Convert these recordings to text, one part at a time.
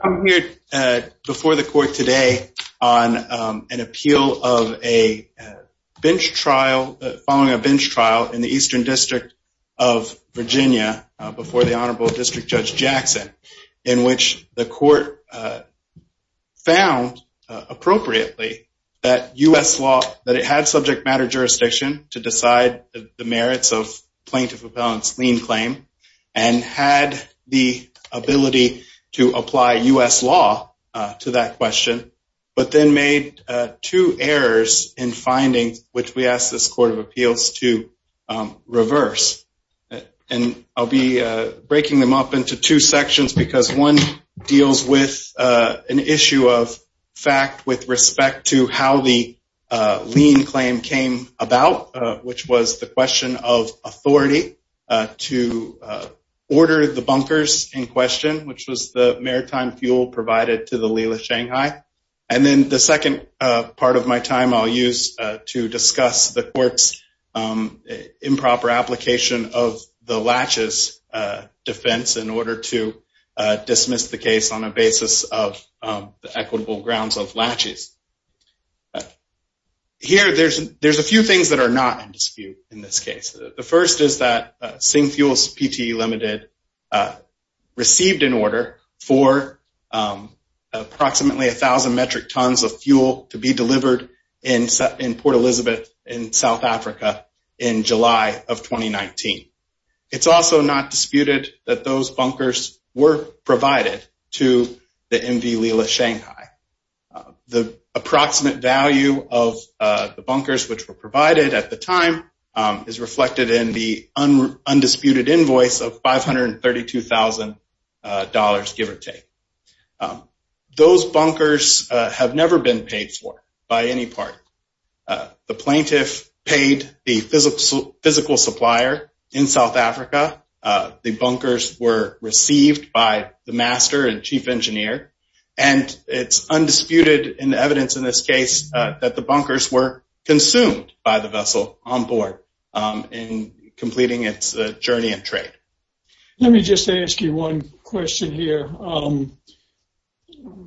I'm here before the court today on an appeal of a bench trial, following a bench trial in the Eastern District of Virginia before the Honorable District Judge Jackson, in which the court found appropriately that U.S. law, that it had subject matter jurisdiction to U.S. law to that question, but then made two errors in findings, which we asked this Court of Appeals to reverse. And I'll be breaking them up into two sections because one deals with an issue of fact with respect to how the lien claim came about, which was the question of authority to order the bunkers in question, which was the maritime fuel provided to the Lila Shanghai. And then the second part of my time I'll use to discuss the court's improper application of the latches defense in order to dismiss the case on a basis of the equitable grounds of latches. Here there's a few things that are not in dispute in this case. The first is that Sing Fuels Pte Ltd. received an order for approximately a thousand metric tons of fuel to be delivered in Port Elizabeth in South Africa in July of 2019. It's also not disputed that those approximate value of the bunkers which were provided at the time is reflected in the undisputed invoice of $532,000, give or take. Those bunkers have never been paid for by any party. The plaintiff paid the physical supplier in South Africa. The bunkers were received by the master and chief engineer and it's undisputed in evidence in this case that the bunkers were consumed by the vessel on board in completing its journey and trade. Let me just ask you one question here.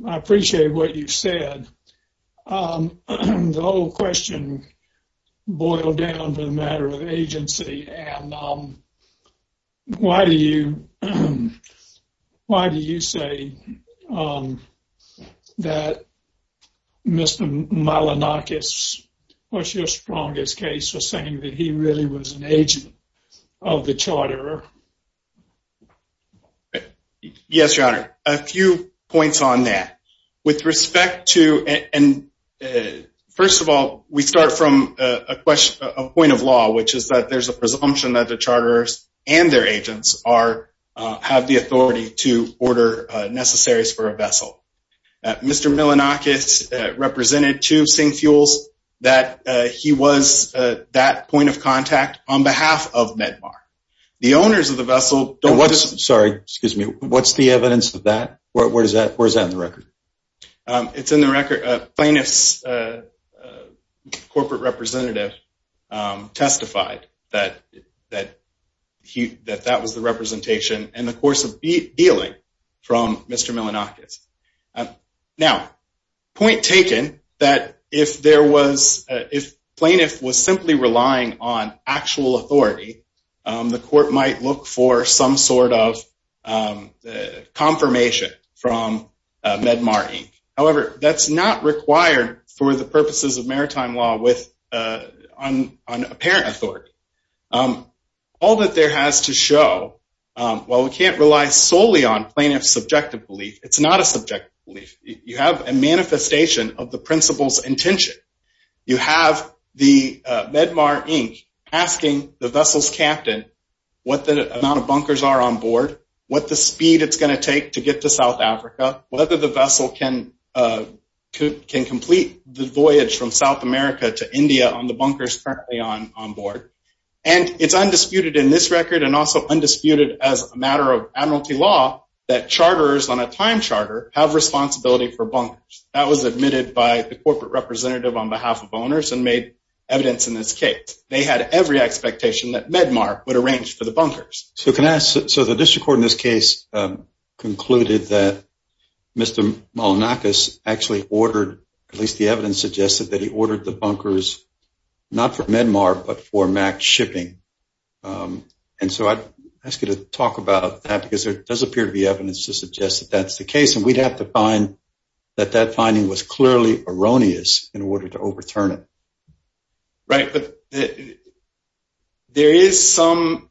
I appreciate what you said. The whole question boiled down to the matter of agency and why do you say that Mr. Malinakis, what's your strongest case for saying that he really was an agent of the charter? Yes, your honor. A few points on that. With respect to and first of all, we start from a point of law which is that there's a presumption that the charters and their agents have the authority to order necessaries for a vessel. Mr. Malinakis represented two sink fuels that he was that point of contact on behalf of Medmar. The owners of the vessel... What's the evidence of that? Where's that in the record? It's in the record. Plaintiff's corporate representative testified that that was the representation in the course of dealing from Mr. Malinakis. Now, point taken that if plaintiff was simply relying on actual authority, the court might look for some sort of confirmation from Medmar Inc. However, that's not for the purposes of maritime law with an apparent authority. All that there has to show, while we can't rely solely on plaintiff's subjective belief, it's not a subjective belief. You have a manifestation of the principal's intention. You have the Medmar Inc. asking the vessel's captain what the amount of bunkers are on board, what the speed it's going to take to get to South Africa, whether the vessel can complete the voyage from South America to India on the bunkers currently on board. And it's undisputed in this record and also undisputed as a matter of admiralty law that charters on a time charter have responsibility for bunkers. That was admitted by the corporate representative on behalf of owners and made evidence in this case. They had every expectation that Medmar would arrange for the bunkers. So the district court in this case concluded that Mr. Malinakis actually ordered, at least the evidence suggested, that he ordered the bunkers not for Medmar but for Mack shipping. And so I'd ask you to talk about that because there does appear to be evidence to suggest that that's the case. And we'd have to find that that finding was clearly erroneous in order to overturn it. Right, but there is some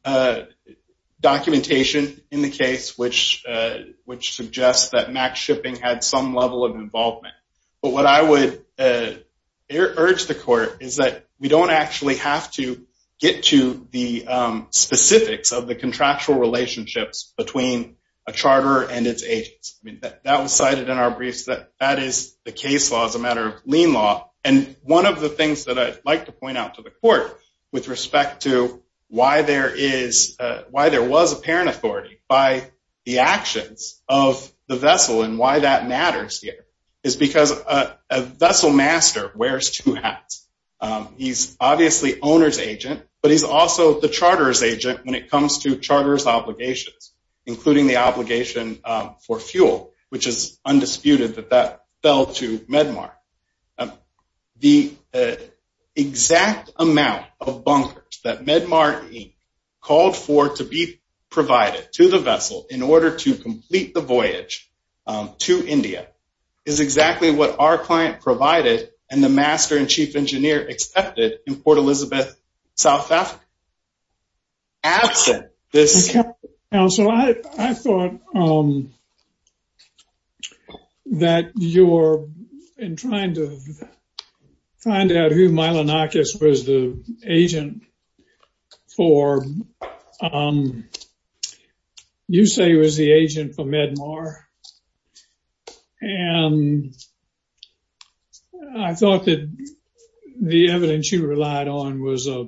documentation in the which suggests that Mack shipping had some level of involvement. But what I would urge the court is that we don't actually have to get to the specifics of the contractual relationships between a charter and its agents. I mean that was cited in our briefs that that is the case law as a matter of lien law. And one of the things that I'd like to point out to the court with respect to why there was apparent authority by the actions of the vessel and why that matters here is because a vessel master wears two hats. He's obviously owner's agent, but he's also the charter's agent when it comes to charter's obligations, including the obligation for fuel, which is undisputed that fell to Medmar. The exact amount of bunkers that Medmar called for to be provided to the vessel in order to complete the voyage to India is exactly what our client provided and the master and chief engineer accepted in Port Elizabeth, South Africa. So I thought that you're in trying to find out who Milonakis was the agent for. You say he was the agent for Medmar and I thought that the evidence you relied on was a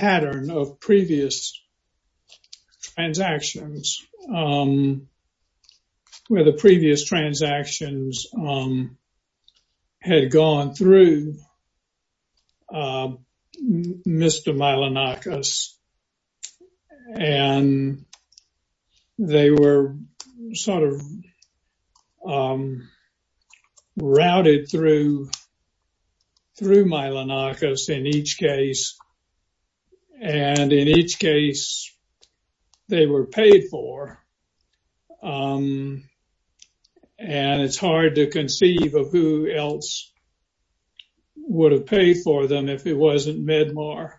reference to the previous transactions, where the previous transactions had gone through Mr. Milonakis and they were sort of a reference to Medmar. But in each case, they were paid for and it's hard to conceive of who else would have paid for them if it wasn't Medmar.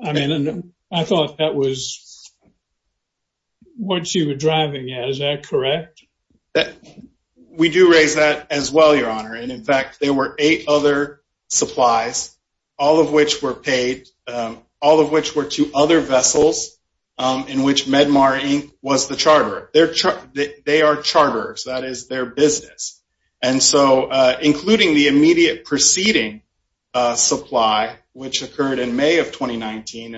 I mean, I thought that was what you were driving at, is that correct? That we do raise that as well, Your Honor. And in fact, there were eight other supplies, all of which were paid, all of which were to other vessels in which Medmar, Inc. was the charter. They are charters, that is their business. And so, including the immediate preceding supply, which occurred in May of 2019.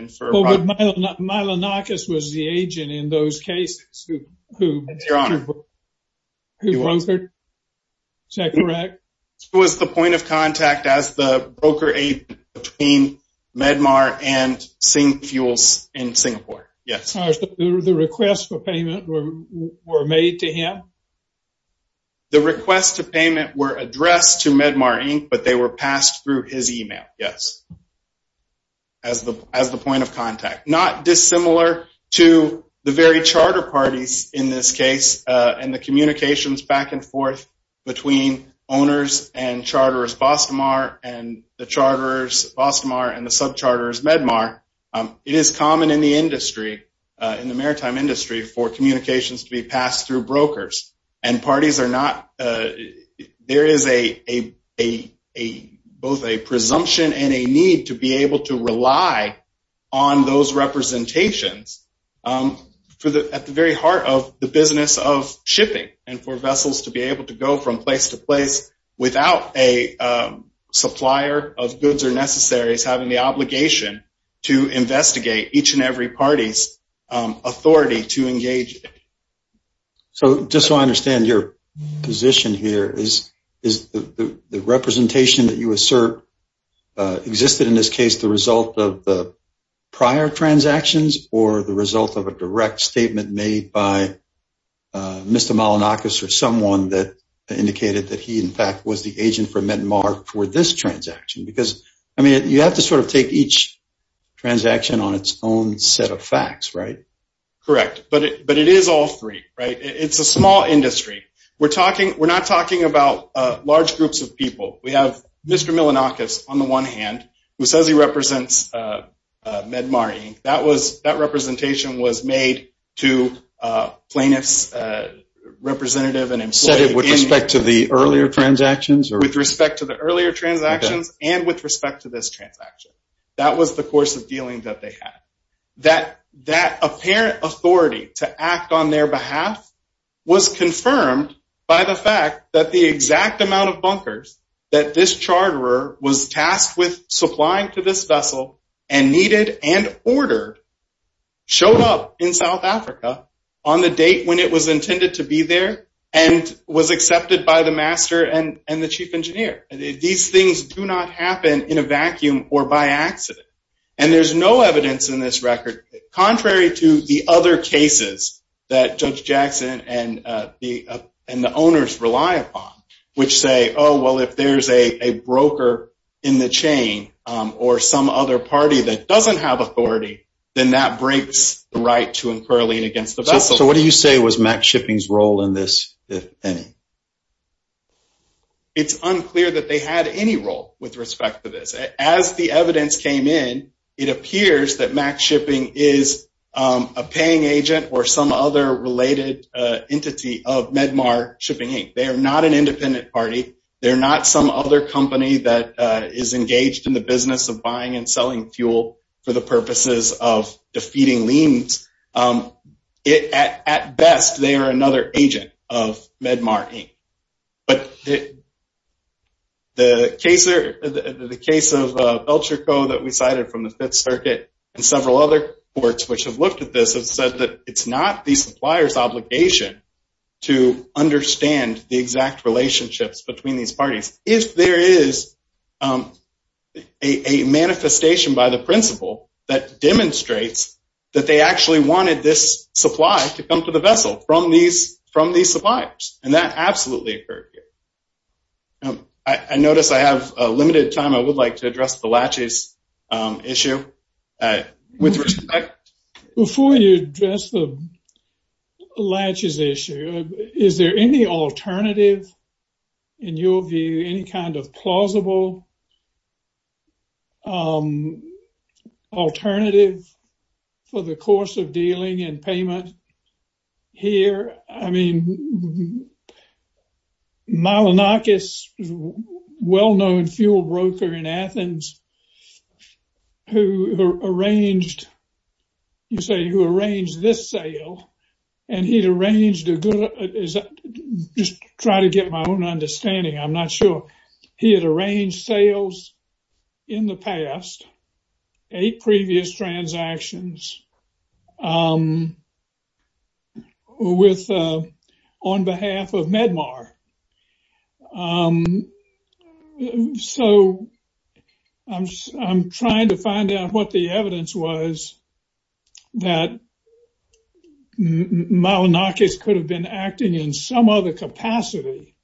Milonakis was the agent in those cases. Who was it? Is that correct? It was the point of contact as the brokerage between Medmar and Singfuels in Singapore, yes. The requests for payment were made to him? The requests to payment were addressed to Medmar, Inc., but they were passed through his email, yes, as the point of contact. Not dissimilar to the very charter parties in this case, and the communications back and forth between owners and charters Bostomar and the charters Bostomar and the subcharters Medmar, it is common in the industry, in the maritime industry, for communications to be passed through brokers. And parties are not, there is a, both a presumption and a need to be able to rely on those representations for the, at the very heart of the business of shipping and for vessels to be able to go from place to place without a supplier of goods or necessaries having the obligation to investigate each and every party's authority to engage. So, just so I understand your position here, is the representation that you assert existed in this case the result of the direct statement made by Mr. Malinakis or someone that indicated that he, in fact, was the agent for Medmar for this transaction? Because, I mean, you have to sort of take each transaction on its own set of facts, right? Correct. But it is all three, right? It's a small industry. We're talking, we're not talking about large groups of people. We have Mr. Malinakis, on the one hand, who says he represents Medmar Inc. That was, that representation was made to plaintiff's representative and employee. With respect to the earlier transactions? With respect to the earlier transactions and with respect to this transaction. That was the course of dealing that they had. That apparent authority to act on their behalf was confirmed by the fact that the exact amount of bunkers that this charterer was tasked with supplying to this vessel and needed and ordered showed up in South Africa on the date when it was intended to be there and was accepted by the master and the chief engineer. These things do not happen in a vacuum or by accident. And there's no evidence in this record, contrary to the other cases that Judge which say, oh, well, if there's a broker in the chain or some other party that doesn't have authority, then that breaks the right to incur lien against the vessel. So what do you say was Max Shipping's role in this, if any? It's unclear that they had any role with respect to this. As the evidence came in, it appears that Max Shipping is a paying agent or some other related entity of Medmar Shipping Inc. They are not an independent party. They're not some other company that is engaged in the business of buying and selling fuel for the purposes of defeating liens. At best, they are another agent of Medmar Inc. But the case of Belcherco that we cited from the Fifth Circuit and several other courts which have looked at this have said that it's not the supplier's obligation to understand the exact relationships between these parties. If there is a manifestation by the principal that demonstrates that they actually wanted this supply to come to the vessel from these suppliers, and that absolutely occurred here. I notice I have limited time. I would like to address the laches issue. With respect, before you address the laches issue, is there any alternative in your view, any kind of plausible alternative for the course of dealing and payment here? I mean, Malinakis, a well-known fuel broker in Athens, who arranged, you say, who arranged this sale, and he'd arranged a good, just try to get my own understanding, I'm not sure. He had arranged sales in the past, eight previous transactions on behalf of Medmar. So, I'm trying to find out what the evidence was that Malinakis could have been acting in some capacity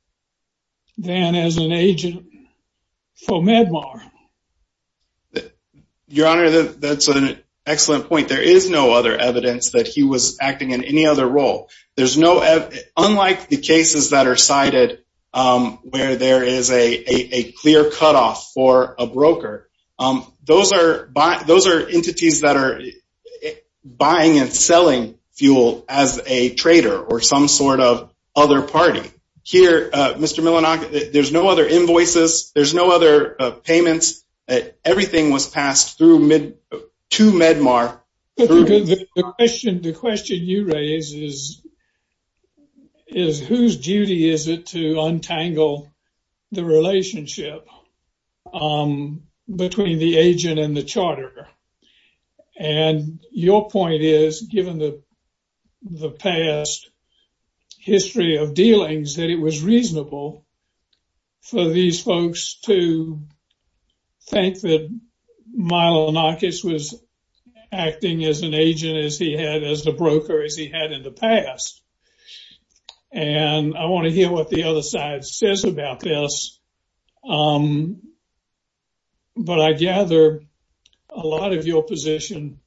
than as an agent for Medmar. Your Honor, that's an excellent point. There is no other evidence that he was acting in any other role. There's no, unlike the cases that are cited where there is a clear cutoff for a broker, those are entities that are buying and selling fuel as a trader or some sort of other party. Here, Mr. Malinakis, there's no other invoices, there's no other payments, everything was passed through to Medmar. The question you raise is whose duty is it to untangle the relationship between the agent and the charter? And your point is, given the past history of dealings, that it was reasonable for these folks to think that Malinakis was acting as an agent as he had, as a broker, as he had in the past. And I want to hear what the other side says about this. But I gather a lot of your position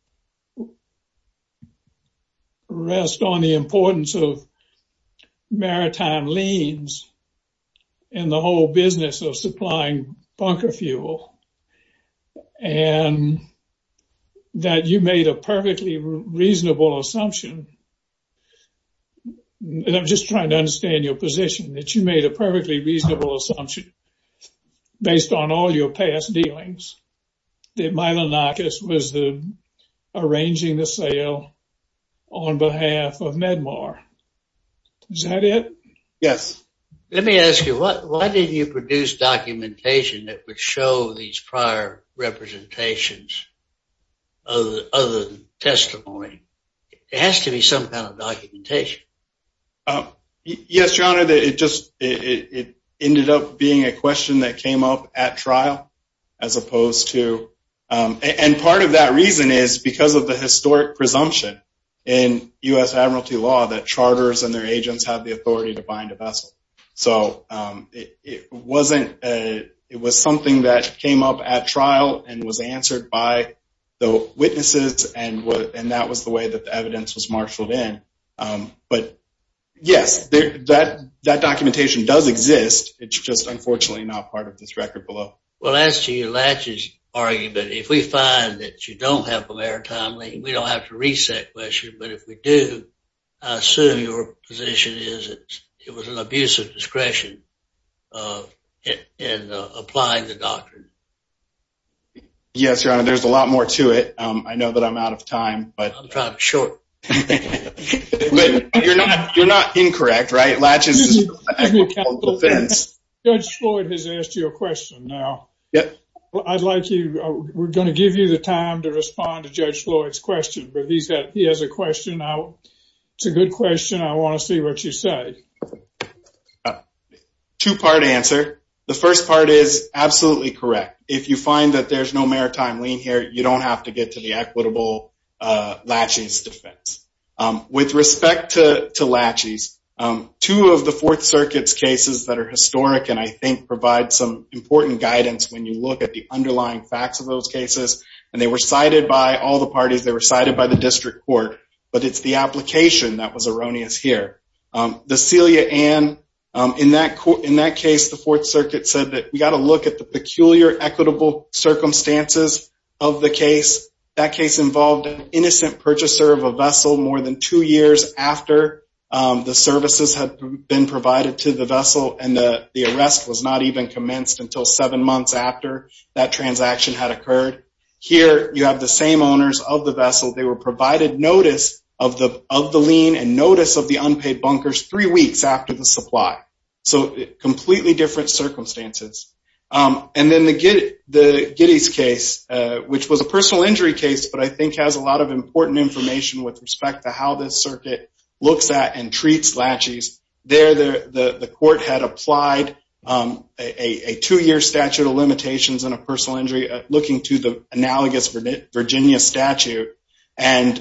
rests on the importance of maritime liens and the whole business of supplying bunker fuel. And that you made a perfectly reasonable assumption, and I'm just trying to understand your position, that you made a perfectly reasonable assumption based on all your past dealings, that Malinakis was arranging the sale on behalf of Medmar. Is that it? Yes. Let me ask you, why did you produce documentation that would show these prior representations of the testimony? It has to be some kind of documentation. Um, yes, your honor, it just, it ended up being a question that came up at trial, as opposed to, and part of that reason is because of the historic presumption in U.S. admiralty law that charters and their agents have the authority to bind a vessel. So it wasn't, it was something that came up at trial and was answered by the witnesses, and that was the way that the evidence was marshaled in. But yes, that documentation does exist, it's just unfortunately not part of this record below. Well as to your latches argument, if we find that you don't have a maritime lien, we don't have to reach that question, but if we do, I assume your position is that it was an abuse of discretion in applying the doctrine. Yes, your honor, there's a lot more to it. Um, I know that I'm out of time, but you're not incorrect, right? Latches is a defense. Judge Floyd has asked you a question now. Yep. I'd like you, we're going to give you the time to respond to Judge Floyd's question, but he's got, he has a question now. It's a good question, I want to see what you say. A two-part answer. The first part is absolutely correct. If you find that there's no maritime lien here, you don't have to get to the equitable latches defense. With respect to latches, two of the Fourth Circuit's cases that are historic and I think provide some important guidance when you look at the underlying facts of those cases, and they were cited by all the parties, they were cited by the district court, but it's the application that was erroneous here. The Celia Ann, in that case, the Fourth Circuit said that we got to look at the peculiar equitable circumstances of the case. That case involved an innocent purchaser of a vessel more than two years after the services had been provided to the vessel and the arrest was not even commenced until seven months after that transaction had occurred. Here, you have the same owners of the bunkers three weeks after the supply. So, completely different circumstances. And then the Giddey's case, which was a personal injury case, but I think has a lot of important information with respect to how this circuit looks at and treats latches. There, the court had applied a two-year statute of limitations on a personal injury looking to the analogous Virginia statute, and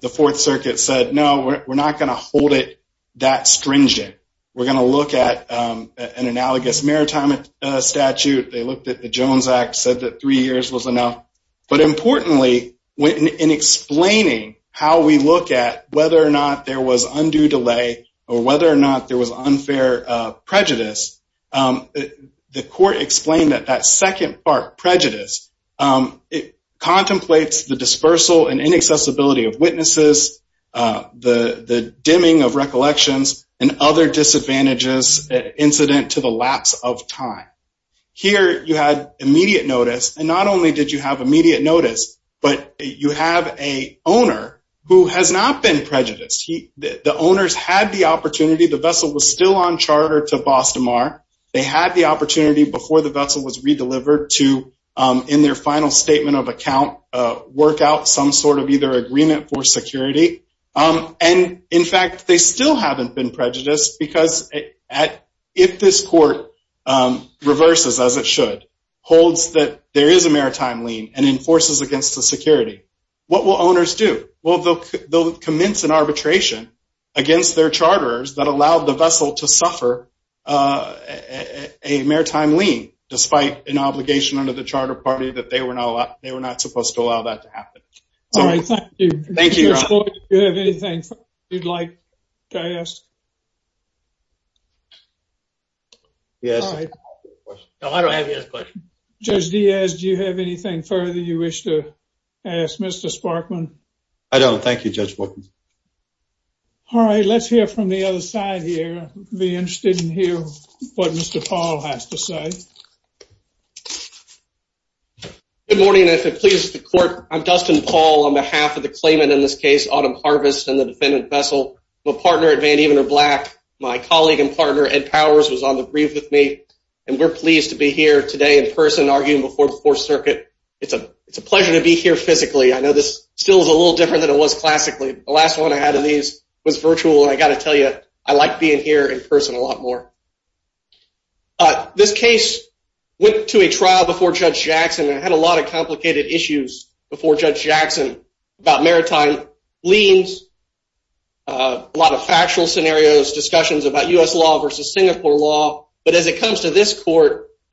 the Fourth Circuit said, no, we're not going to hold it that stringent. We're going to look at an analogous maritime statute. They looked at the Jones Act, said that three years was enough. But importantly, in explaining how we look at whether or not there was undue delay or whether or not there was unfair prejudice, the court explained that that second prejudice contemplates the dispersal and inaccessibility of witnesses, the dimming of recollections, and other disadvantages incident to the lapse of time. Here, you had immediate notice, and not only did you have immediate notice, but you have a owner who has not been prejudiced. The owners had the opportunity. The vessel was still on charter to Boston Mar. They had the opportunity before the vessel was redelivered to, in their final statement of account, work out some sort of either agreement for security. And in fact, they still haven't been prejudiced because if this court reverses, as it should, holds that there is a maritime lien and enforces against the security, what will owners do? Well, they'll commence an arbitration against their charters that allowed the vessel to suffer a maritime lien, despite an obligation under the charter party that they were not supposed to allow that to happen. All right. Thank you. Judge Boyd, do you have anything you'd like to ask? Yes. No, I don't have any other questions. Judge Diaz, do you have anything further you wish to ask Mr. Sparkman? I don't. Thank you, Judge Boyd. All right. Let's hear from the other side here. I'd be interested to hear what Mr. Paul has to say. Good morning, and if it pleases the court, I'm Dustin Paul on behalf of the claimant in this case, Autumn Harvest, and the defendant, Vessel. I'm a partner at Van Evener Black. My colleague and partner, Ed Powers, was on the brief with me, and we're pleased to be here today in person arguing before the Fourth Circuit. It's a pleasure to be here physically. I know this still is a little different than it was classically. The last one I had of these was virtual, and I got to tell you, I like being here in person a lot more. This case went to a trial before Judge Jackson and had a lot of complicated issues before Judge Jackson about maritime liens, a lot of factual scenarios, discussions about U.S. law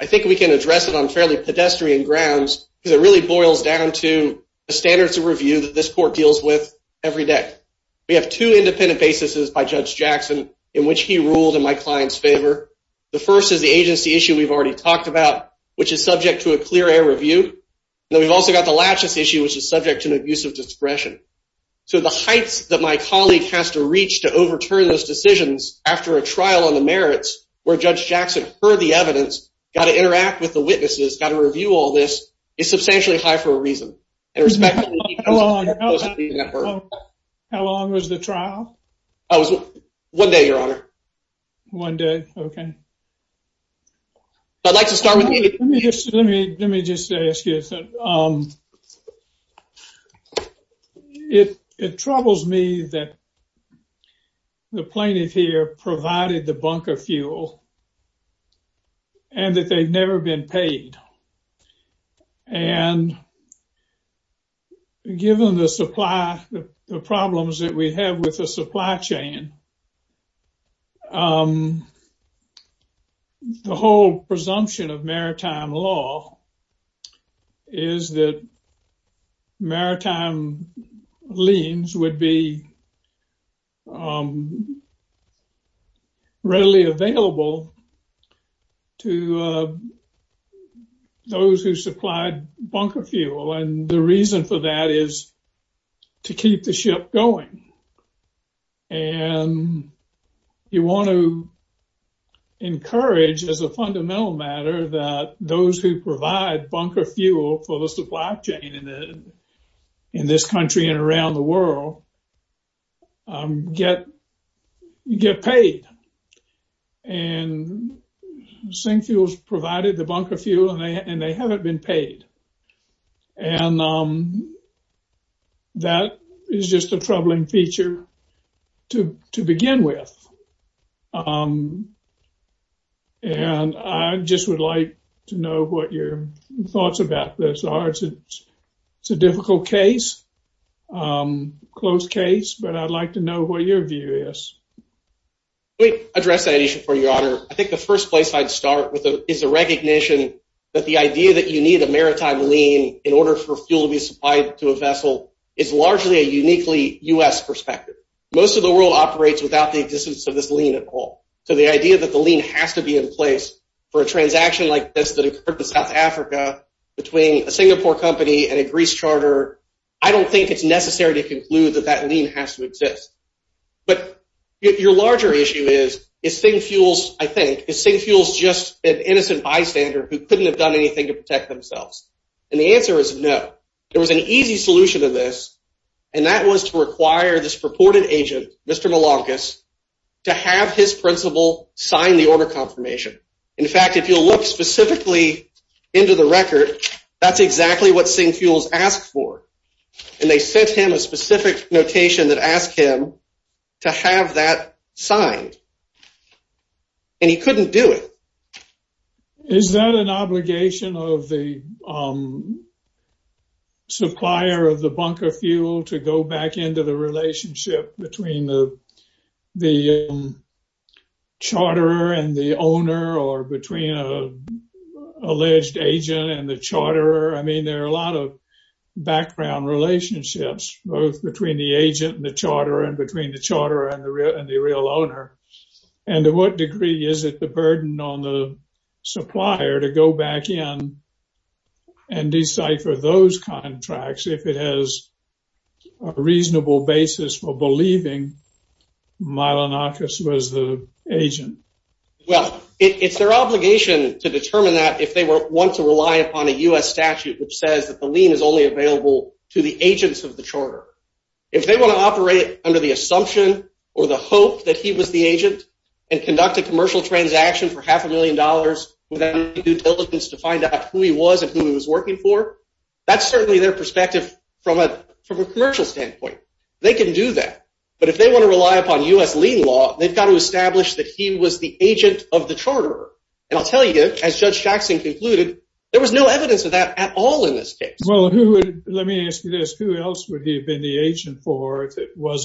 I think we can address it on fairly pedestrian grounds because it really boils down to the standards of review that this court deals with every day. We have two independent bases by Judge Jackson in which he ruled in my client's favor. The first is the agency issue we've already talked about, which is subject to a clear air review, and then we've also got the laches issue, which is subject to an abuse of discretion. So the heights that my colleague has to reach to overturn those decisions after a trial on the merits where Judge Jackson heard the evidence, got to interact with the witnesses, got to review all this, is substantially high for a reason. How long was the trial? One day, Your Honor. One day, okay. I'd like to start with you. Let me just ask you, it troubles me that the plaintiff here provided the bunker fuel and that they've never been paid. And given the supply, the problems that we have with the supply chain, the whole presumption of maritime law is that maritime liens would be readily available to those who supplied bunker fuel. And the reason for that is to keep the ship going. And you want to encourage as a fundamental matter that those who provide bunker fuel for the supply chain in this country and around the world get paid. And that is just a troubling feature to begin with. And I just would like to know what your thoughts about this are. It's a difficult case, close case, but I'd like to know what your view is. Let me address that issue for you, Your Honor. I think the first place I'd start with is the recognition that the idea that you need a maritime lien in order for fuel to be supplied to a vessel is largely a uniquely U.S. perspective. Most of the world operates without the existence of this lien at all. So the idea that the lien has to be in place for a transaction like this that occurred in South Africa between a Singapore company and a Greece charter, I don't think it's necessary to conclude that that lien has to exist. But your larger issue is, is SingFuel, I think, is SingFuel just an innocent bystander who couldn't have done anything to protect themselves? And the answer is no. There was an easy solution to this, and that was to require this purported agent, Mr. Milankas, to have his principal sign the order confirmation. In fact, if you'll look specifically into the record, that's exactly what SingFuel's asked for. And they sent him a specific notation that asked him to have that signed. And he couldn't do it. Is that an obligation of the supplier of the bunker fuel to go back into the relationship between the charterer and the owner or between an alleged agent and the charterer? I mean, there are a lot of background relationships, both between the agent and the charterer and the charterer and the real owner. And to what degree is it the burden on the supplier to go back in and decipher those contracts if it has a reasonable basis for believing Milankas was the agent? Well, it's their obligation to determine that if they want to rely upon a U.S. statute which says that the lien is only available to the agents of the or the hope that he was the agent and conduct a commercial transaction for half a million dollars without any due diligence to find out who he was and who he was working for, that's certainly their perspective from a commercial standpoint. They can do that. But if they want to rely upon U.S. lien law, they've got to establish that he was the agent of the charterer. And I'll tell you, as Judge Jackson concluded, there was no evidence of that at all in this case. Well, let me ask you this. Who else would he have been the agent for if it Well,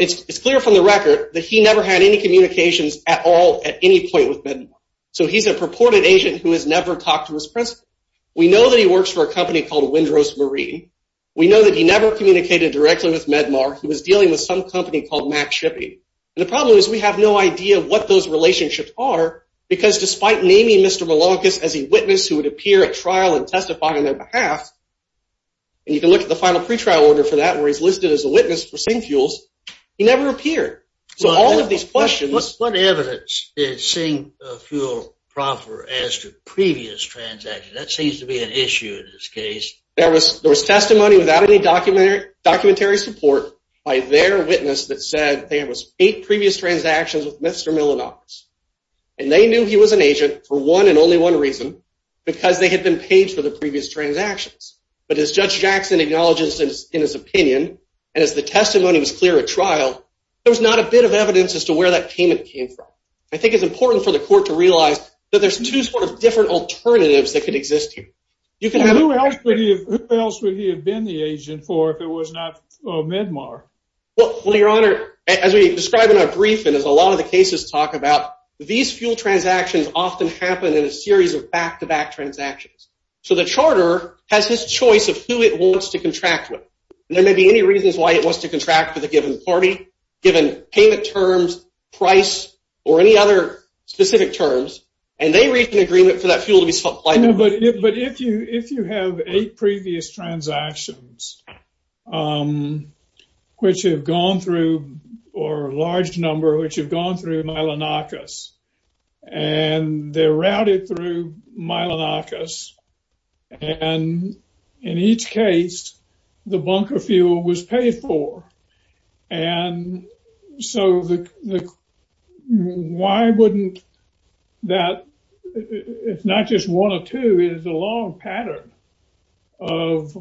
it's clear from the record that he never had any communications at all at any point with Medmar. So he's a purported agent who has never talked to his principal. We know that he works for a company called Windrose Marine. We know that he never communicated directly with Medmar. He was dealing with some company called Mack Shippey. And the problem is we have no idea what those relationships are because despite naming Mr. Milankas as a witness who would appear at trial and testify on their behalf, and you can look at the final pretrial order for that where he's listed as a witness for SingFuels, he never appeared. So all of these questions... What evidence did SingFuel proffer as to previous transactions? That seems to be an issue in this case. There was testimony without any documentary support by their witness that said there was eight previous transactions with Mr. Milankas. And they knew he was an agent for one and only one reason, because they had been paid for the previous transactions. But as Judge Jackson acknowledges in his opinion, and as the testimony was clear at trial, there was not a bit of evidence as to where that payment came from. I think it's important for the court to realize that there's two sort of different alternatives that could exist here. Who else would he have been the agent for if it was not for Medmar? Well, Your Honor, as we describe in our brief and as a lot of the cases talk about, these fuel transactions often happen in a series of back-to-back transactions. So the charter has his choice of who it wants to contract with. There may be any reasons why it wants to contract with a given party, given payment terms, price, or any other specific terms, and they reach an agreement for that fuel to be supplied. But if you have eight previous transactions which have gone through, or a large number, which have gone through Milankas, and they're routed through Milankas, and in each case, the bunker fuel was paid for. And so why wouldn't that, it's not just one or two, it's a long pattern of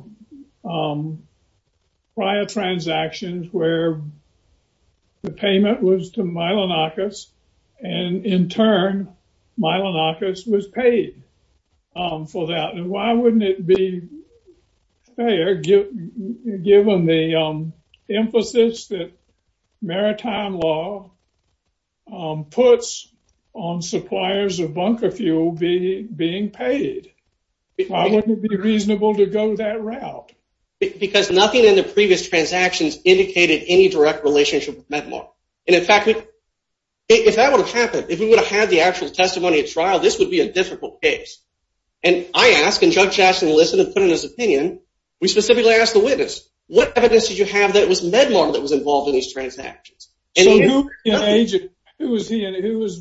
prior transactions where the payment was to Milankas, and in turn, Milankas was paid for that. And why wouldn't it be fair, given the emphasis that maritime law puts on suppliers of bunker fuel being paid? Why wouldn't it be reasonable to go that route? Because nothing in the previous transactions indicated any direct relationship with Medmar. And in fact, if that would have happened, if we would have had the actual testimony at trial, this would be a difficult case. And I ask, and Judge Jackson listened and put in his opinion, we specifically asked the witness, what evidence did you have that it was Medmar that was involved in these transactions? So who was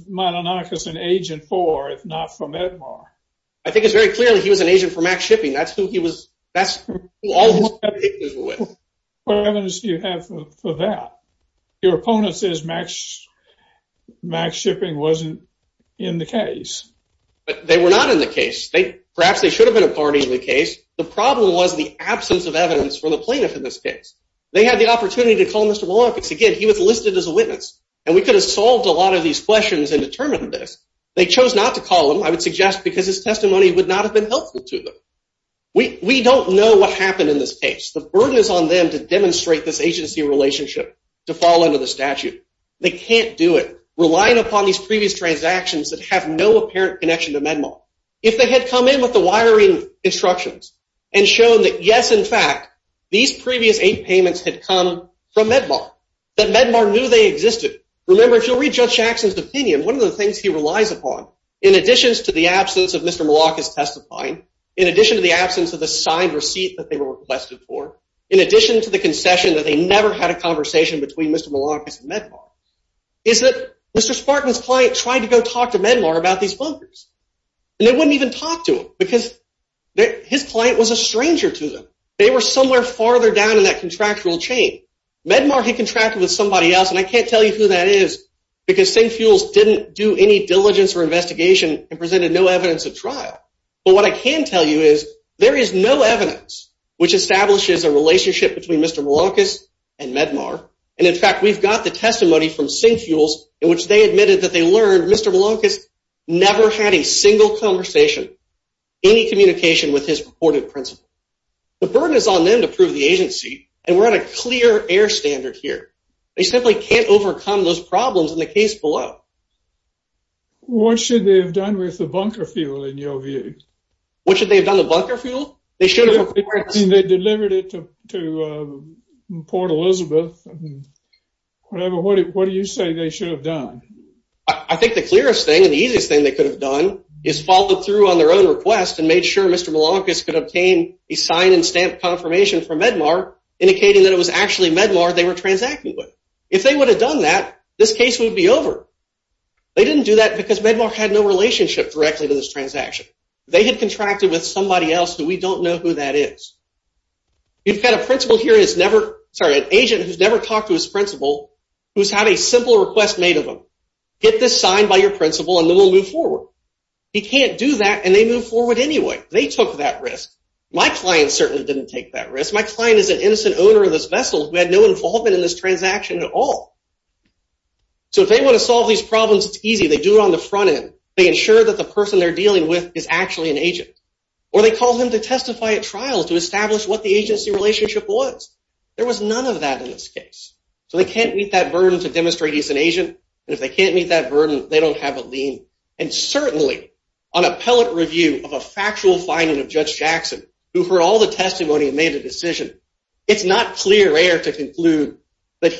Milankas an agent for, if not for Medmar? I think it's very difficult. What evidence do you have for that? Your opponent says max shipping wasn't in the case. But they were not in the case. Perhaps they should have been a part of the case. The problem was the absence of evidence from the plaintiff in this case. They had the opportunity to call Mr. Milankas. Again, he was listed as a witness, and we could have solved a lot of these questions and determined this. They chose not to call him, I would suggest, because his testimony would not have been helpful to them. We don't know what happened in this case. The burden is on them to demonstrate this agency relationship to fall under the statute. They can't do it, relying upon these previous transactions that have no apparent connection to Medmar. If they had come in with the wiring instructions and shown that, yes, in fact, these previous eight payments had come from Medmar, that Medmar knew they existed. Remember, if you'll read Judge Jackson's opinion, one of the things he relies upon, in addition to the testifying, in addition to the absence of the signed receipt that they were requested for, in addition to the concession that they never had a conversation between Mr. Milankas and Medmar, is that Mr. Spartan's client tried to go talk to Medmar about these bunkers, and they wouldn't even talk to him, because his client was a stranger to them. They were somewhere farther down in that contractual chain. Medmar had contracted with somebody else, and I can't tell you who that is, because Sengfuels didn't do any diligence or investigation and presented no evidence of trial. But what I can tell you is there is no evidence which establishes a relationship between Mr. Milankas and Medmar. And, in fact, we've got the testimony from Sengfuels in which they admitted that they learned Mr. Milankas never had a single conversation, any communication with his purported principal. The burden is on them to prove the agency, and we're at a clear air standard here. They simply can't overcome those problems in the case below. What should they have done with the bunker fuel, in your view? What should they have done with the bunker fuel? They should have, of course... They delivered it to Port Elizabeth. Whatever, what do you say they should have done? I think the clearest thing and the easiest thing they could have done is followed through on their own request and made sure Mr. Milankas could obtain a sign and stamp confirmation from Medmar indicating that it was actually Medmar they were transacting with. If they would have done that, this case would be over. They didn't do that because Medmar had no relationship directly to this transaction. They had contracted with somebody else who we don't know who that is. You've got a principal here who's never, sorry, an agent who's never talked to his principal who's had a simple request made of him. Get this signed by your principal and then we'll move forward. He can't do that and they move forward anyway. They took that risk. My client certainly didn't take that risk. My client is an innocent owner of this vessel who had no involvement in this transaction at all. If they want to solve these problems, it's easy. They do it on the front end. They ensure that the person they're dealing with is actually an agent or they call them to testify at trial to establish what the agency relationship was. There was none of that in this case. They can't meet that burden to demonstrate he's an agent. If they can't meet that burden, they don't have a lien. Certainly, on appellate review of a factual finding of Judge that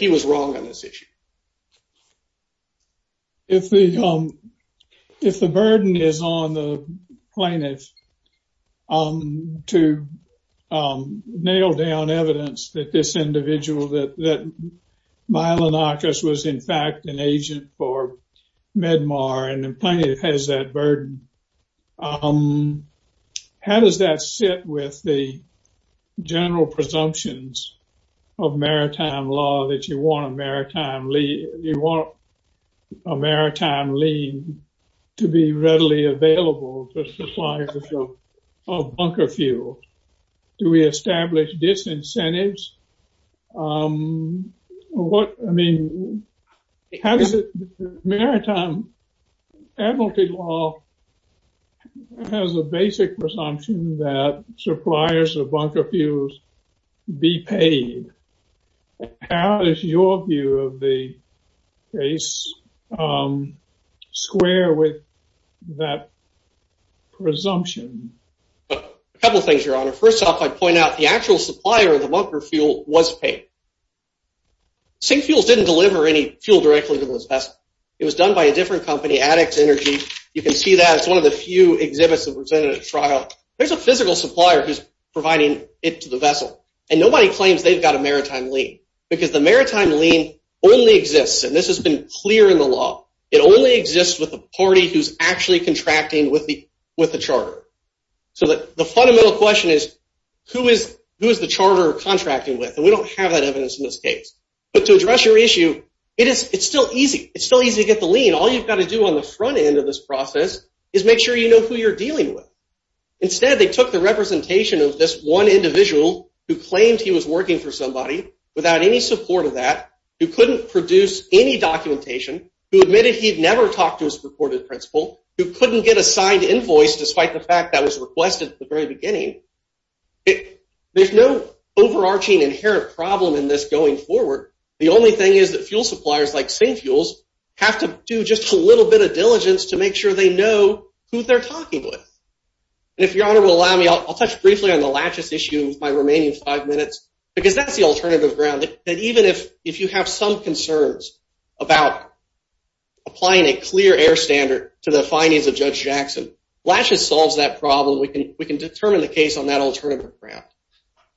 he was wrong on this issue. If the burden is on the plaintiff to nail down evidence that this individual, that Milanakis, was in fact an agent for Medmar and the plaintiff has that burden, how does that sit with the general presumptions of maritime law that you want a maritime lien to be readily available to suppliers of bunker fuel? Do we establish disincentives? I mean, how does the maritime admiralty law has a basic presumption that suppliers of bunker fuels be paid? How does your view of the case square with that presumption? A couple of things, Your Honor. First off, I'd point out the actual supplier of the bunker fuel was paid. Sink Fuels didn't deliver any fuel directly to this vessel. It was done by a different company, Addict Energy. You can see that. It's one of the few exhibits that were presented at trial. There's a physical supplier who's providing it to the vessel, and nobody claims they've got a maritime lien because the maritime lien only exists, and this has been clear in the law. It only exists with the party who's actually contracting with the charter. So the fundamental question is, who is the charter contracting with? And we don't have that evidence in this case. But to address your issue, it's still easy. It's still easy to get the lien. All you've got to do on the front end of this process is make sure you know who you're dealing with. Instead, they took the representation of this one individual who claimed he was working for somebody without any support of that, who couldn't produce any documentation, who admitted he'd never talked to his purported principal, who couldn't get a signed invoice despite the fact that was requested at the very beginning. There's no overarching inherent problem in this going forward. The only thing is that fuel suppliers like St. Fuels have to do just a little bit of diligence to make sure they know who they're talking with. And if Your Honor will allow me, I'll touch briefly on the Latches issue with my remaining five minutes, because that's the alternative ground, that even if you have some concerns about applying a clear air standard to the findings of Judge Jackson, Latches solves that problem. We can determine the case on that alternative ground.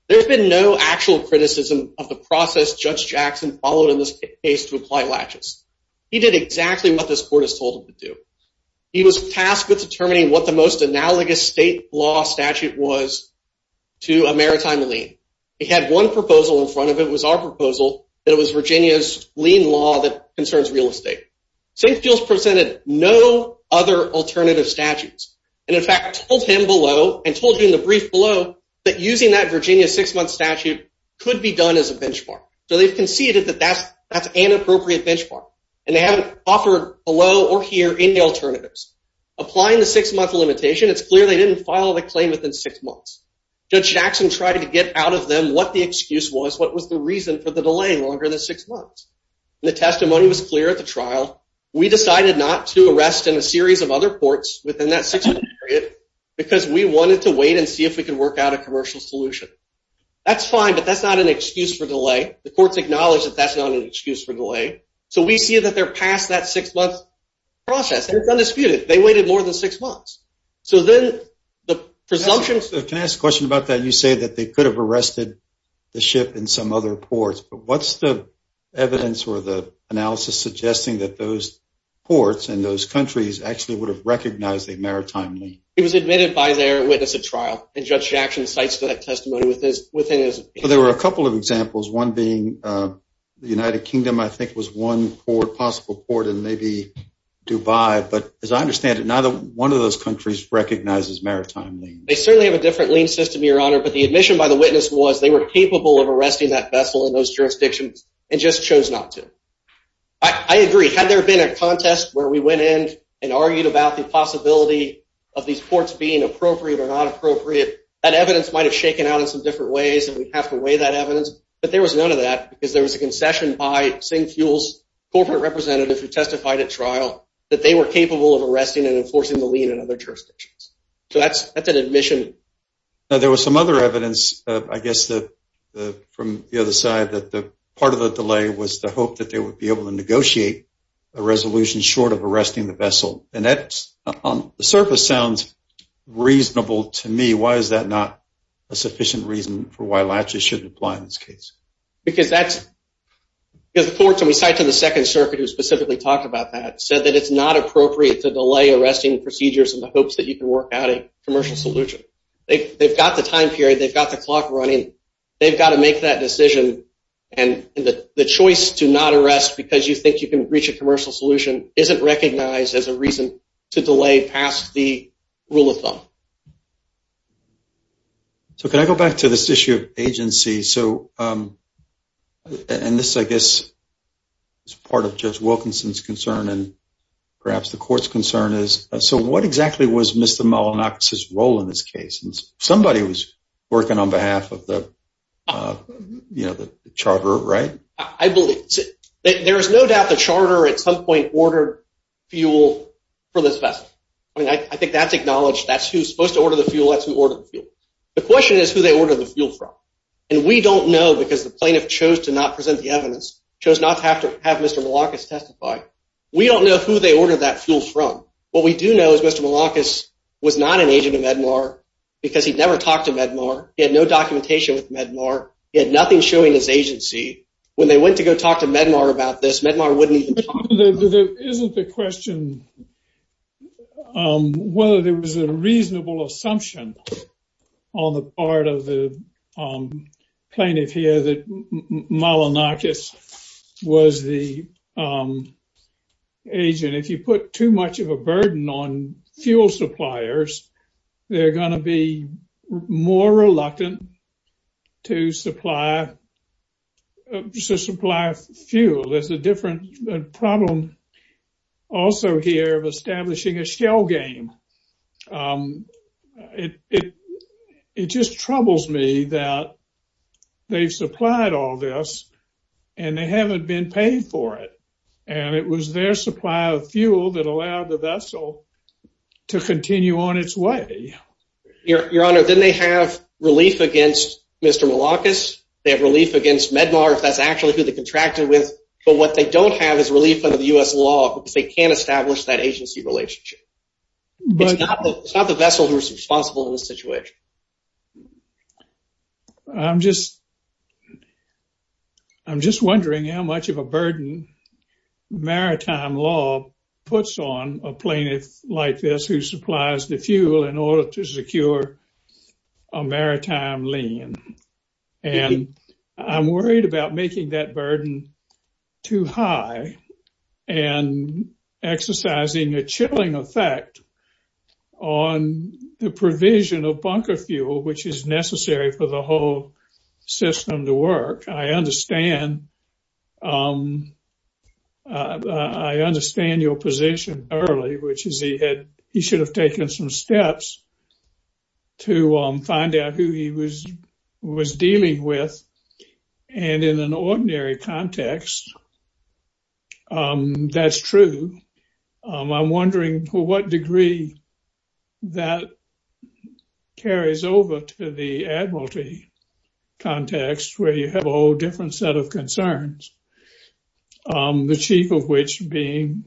There's been no actual criticism of the process Judge Jackson followed in this case to apply Latches. He did exactly what this court has told him to do. He was tasked with determining what the most analogous state law statute was to a maritime lien. He had one proposal in front of it. It was our proposal that it was Virginia's lien law that concerns real state. St. Fuels presented no other alternative statutes, and in fact told him below and told you in the brief below that using that Virginia six-month statute could be done as a benchmark. So they've conceded that that's an inappropriate benchmark, and they haven't offered below or here any alternatives. Applying the six-month limitation, it's clear they didn't file the claim within six months. Judge Jackson tried to get out of them what the excuse was, what was the reason for the We decided not to arrest in a series of other ports within that six-month period because we wanted to wait and see if we could work out a commercial solution. That's fine, but that's not an excuse for delay. The courts acknowledge that that's not an excuse for delay. So we see that they're past that six-month process, and it's undisputed. They waited more than six months. So then the presumption... Can I ask a question about that? You say that they could have arrested the ship in some other ports, but what's the evidence or the analysis suggesting that those ports and those countries actually would have recognized a maritime lien? It was admitted by their witness at trial, and Judge Jackson cites that testimony within his... There were a couple of examples, one being the United Kingdom, I think was one possible port, and maybe Dubai, but as I understand it, neither one of those countries recognizes maritime liens. They were capable of arresting that vessel in those jurisdictions and just chose not to. I agree. Had there been a contest where we went in and argued about the possibility of these ports being appropriate or not appropriate, that evidence might have shaken out in some different ways, and we'd have to weigh that evidence, but there was none of that because there was a concession by SingFuel's corporate representative who testified at trial that they were capable of arresting and enforcing the lien in other jurisdictions. So that's an admission. Now, there was some other evidence, I guess, from the other side that part of the delay was the hope that they would be able to negotiate a resolution short of arresting the vessel, and that on the surface sounds reasonable to me. Why is that not a sufficient reason for why latches shouldn't apply in this case? Because that's... Because the courts, and we cite to the Second Circuit who specifically talked about that, said that it's not appropriate to delay arresting procedures in the hopes that you can work out a commercial solution. They've got the time period. They've got the clock running. They've got to make that decision, and the choice to not arrest because you think you can reach a commercial solution isn't recognized as a reason to delay past the rule of thumb. So can I go back to this issue of agency? So... And this, I guess, is part of Judge Wilkinson's concern, and perhaps the court's concern is, so what exactly was Mr. Molonakis's role in this case? Somebody was working on behalf of the, you know, the charter, right? I believe... There is no doubt the charter at some point ordered fuel for this vessel. I mean, I think that's acknowledged. That's who's supposed to order the fuel. That's who ordered the fuel. The question is who they ordered the fuel from, and we don't know because the plaintiff chose to not present the testify. We don't know who they ordered that fuel from. What we do know is Mr. Molonakis was not an agent of Medmar because he'd never talked to Medmar. He had no documentation with Medmar. He had nothing showing his agency. When they went to go talk to Medmar about this, Medmar wouldn't even... Isn't the question whether there was a reasonable assumption on the part of the plaintiff here that the agent, if you put too much of a burden on fuel suppliers, they're going to be more reluctant to supply fuel. There's a different problem also here of establishing a shell game. It just troubles me that they've supplied all this and they haven't been paid for it, and it was their supply of fuel that allowed the vessel to continue on its way. Your Honor, didn't they have relief against Mr. Molonakis? They have relief against Medmar if that's actually who they contracted with, but what they don't have is relief under the U.S. law because they can't It's not the vessel who's responsible in this situation. I'm just wondering how much of a burden maritime law puts on a plaintiff like this who supplies the fuel in order to secure a maritime lien. I'm worried about making that burden too high and exercising a chilling effect on the provision of bunker fuel, which is necessary for the whole system to work. I understand your position early, which is he should have taken some steps to find out who he was dealing with, and in an ordinary context, that's true. I'm wondering to what degree that carries over to the admiralty context where you have a whole different set of concerns, the chief of which being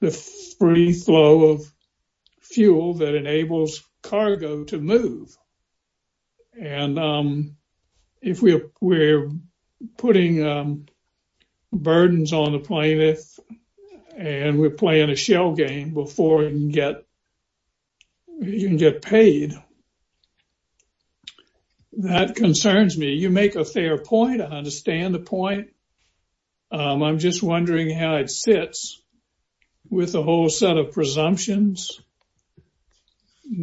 the free flow fuel that enables cargo to move. If we're putting burdens on the plaintiff and we're playing a shell game before you can get paid, that concerns me. You make a fair point. I understand the point. I'm just wondering how it relates to the regulations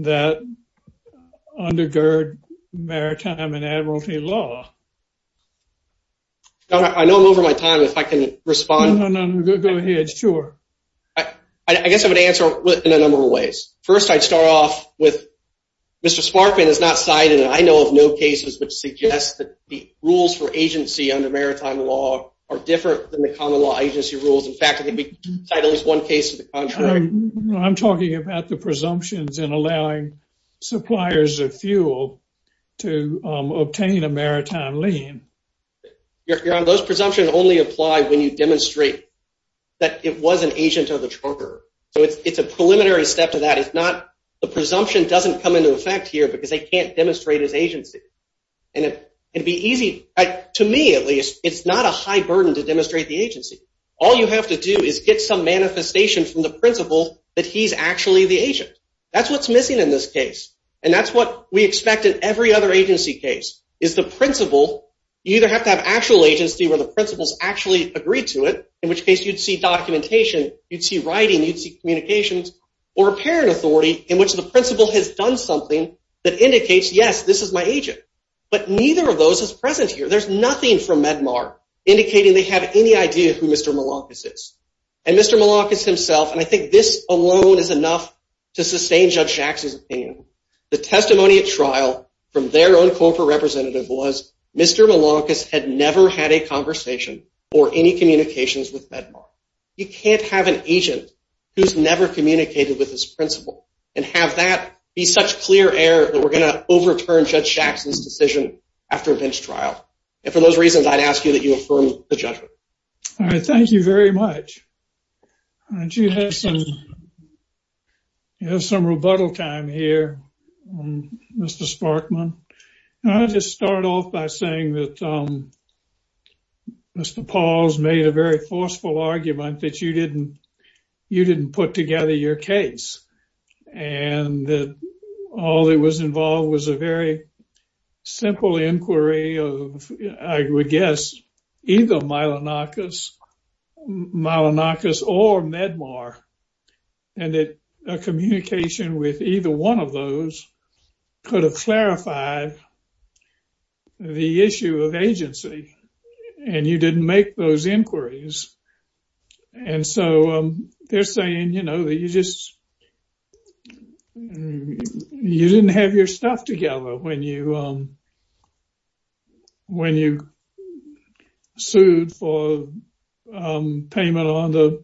that undergird maritime and admiralty law. I know I'm over my time, if I can respond. Go ahead, sure. I guess I would answer in a number of ways. First, I'd start off with Mr. Sparkman has not cited, and I know of no cases, which suggest that the rules for agency under maritime law are different than the common law agency rules. In fact, I can cite at least one case to the contrary. I'm talking about the presumptions in allowing suppliers of fuel to obtain a maritime lien. Those presumptions only apply when you demonstrate that it was an agent of the charter. It's a preliminary step to that. The presumption doesn't come into effect here because they can't demonstrate his agency. To me, at least, it's not a high burden to demonstrate the agency. All you have to do is get some manifestation from the principal that he's actually the agent. That's what's missing in this case, and that's what we expect in every other agency case, is the principal. You either have to have actual agency where the principal's actually agreed to it, in which case you'd see documentation, you'd see writing, you'd see communications, or a parent authority in which the principal has done something that indicates, yes, this is my agent. But neither of those is present here. There's nothing from indicating they have any idea who Mr. Malonkis is. And Mr. Malonkis himself, and I think this alone is enough to sustain Judge Shaxs' opinion, the testimony at trial from their own corporate representative was Mr. Malonkis had never had a conversation or any communications with MedMart. You can't have an agent who's never communicated with his principal and have that be such clear air that we're going to overturn Judge Shaxs' decision after a bench trial. And for those reasons, I'd ask you that you affirm the judgment. All right, thank you very much. I do have some rebuttal time here, Mr. Sparkman. I'll just start off by saying that Mr. Pauls made a very forceful argument that you didn't put together your case, and that all that was involved was a very simple inquiry of, I would guess, either Malonkis or MedMart, and that a communication with either one of those could have clarified the issue of agency. And you didn't make those inquiries. And so they're saying, you know, you didn't have your stuff together when you sued for payment on the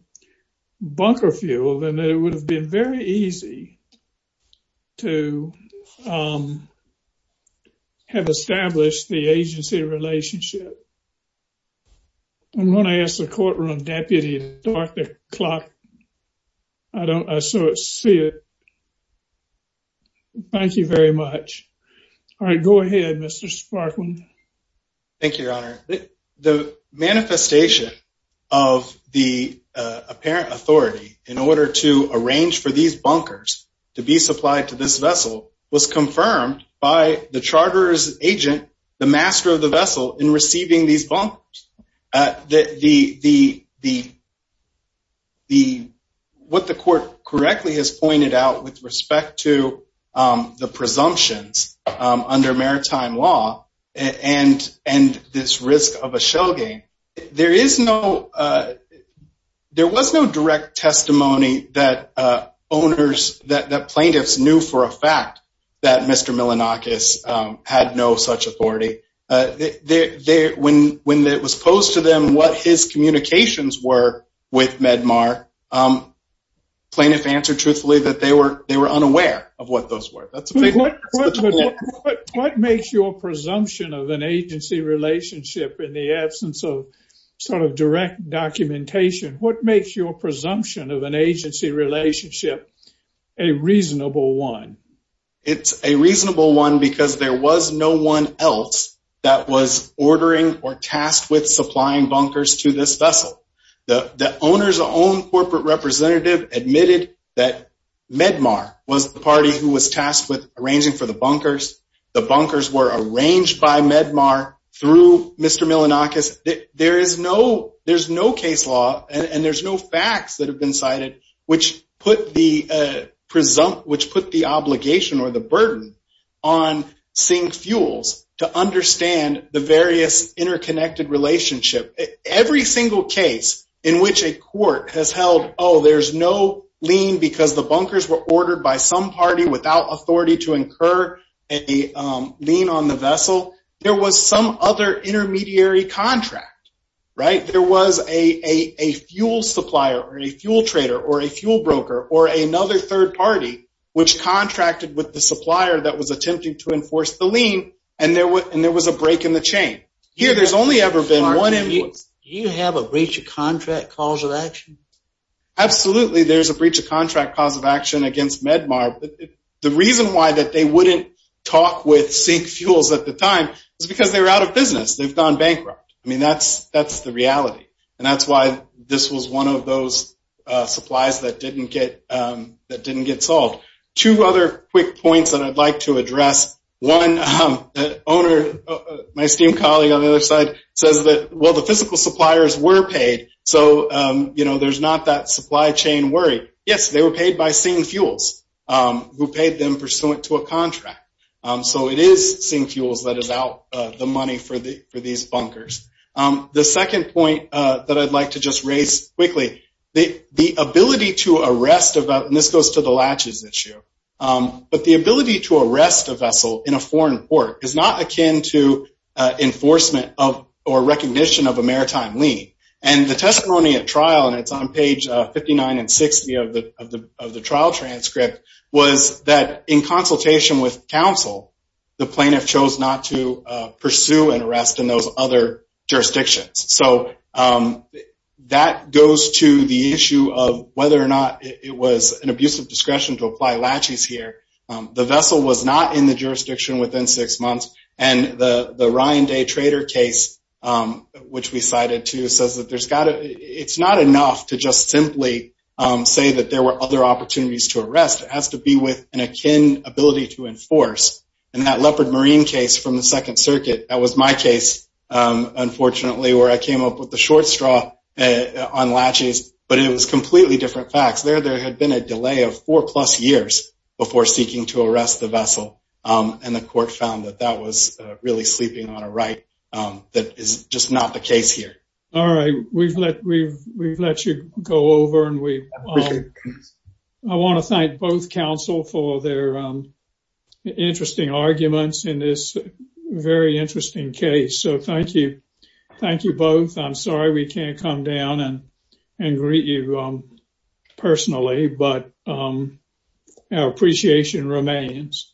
bunker fuel, and it would have been very easy to have established the agency relationship. I'm going to ask the courtroom deputy, Dr. Clark. I don't, I saw it, see it. Thank you very much. All right, go ahead, Mr. Sparkman. Thank you, Your Honor. The manifestation of the apparent authority in order to arrange for these bunkers to be supplied to this vessel was confirmed by the Charter's agent, the master of the vessel, in receiving these bunkers. What the court correctly has pointed out with respect to the presumptions under maritime law and this risk of a shell game, there was no direct testimony that owners, that plaintiffs knew for a fact that Mr. Malonkis had no such authority. When it was posed to them what his communications were with MedMart, plaintiffs answered truthfully that they were unaware of what those were. What makes your presumption of an agency relationship in the absence of sort of direct documentation, what makes your presumption of an agency relationship a reasonable one? It's a reasonable one because there was no one else that was ordering or tasked with supplying bunkers to this vessel. The owner's own corporate representative admitted that MedMart was the party who was tasked with arranging for the bunkers. The bunkers were arranged by MedMart through Mr. Malonkis. There is no, there's no case law and there's no facts that have been cited which put the obligation or the burden on Sink Fuels to understand the various interconnected relationship. Every single case in which a court has held, oh there's no lien because the bunkers were ordered by some party without authority to incur a lien on the vessel, there was some other intermediary contract, right? There was a fuel supplier or a fuel trader or a fuel broker or another third party which contracted with the supplier that was attempting to enforce the lien and there was a break in the chain. Here there's only ever been one invoice. Do you have a breach of contract cause of action? Absolutely there's a breach of contract cause of action against MedMart. The reason why that they wouldn't talk with Sink Fuels at the time was because they were out of business. They've gone bankrupt. I mean that's the reality and that's why this was one of those supplies that didn't get, that didn't get solved. Two other quick points that I'd like to address. One, the owner, my esteemed colleague on the other side says that well the physical suppliers were paid so you know there's not that supply chain worry. Yes they were paid by Sink Fuels who paid them pursuant to a contract. So it is Sink Fuels that was out the money for the for these bunkers. The second point that I'd like to just raise quickly. The ability to arrest, and this goes to the latches issue, but the ability to arrest a vessel in a foreign port is not akin to enforcement of or recognition of a maritime lien and the testimony at trial and it's on page 59 and 60 of the trial transcript was that in consultation with counsel the plaintiff chose not to pursue and arrest in those other jurisdictions. So that goes to the issue of whether or not it was an abusive discretion to apply latches here. The vessel was not in the jurisdiction within six months and the the Ryan Day trader case which we cited too says that there's got to, it's not enough to just simply say that there were other opportunities to arrest. It has to be with an akin ability to enforce and that leopard marine case from the second circuit that was my case unfortunately where I came up with the short straw on latches but it was completely different facts. There there had been a delay of four plus years before seeking to arrest the vessel and the court found that that was really sleeping on a right that is just not the case here. All right we've let we've let you go over and we I want to thank both counsel for their interesting arguments in this very interesting case. So thank you, thank you both. I'm sorry we can't come down and and greet you personally but our appreciation remains.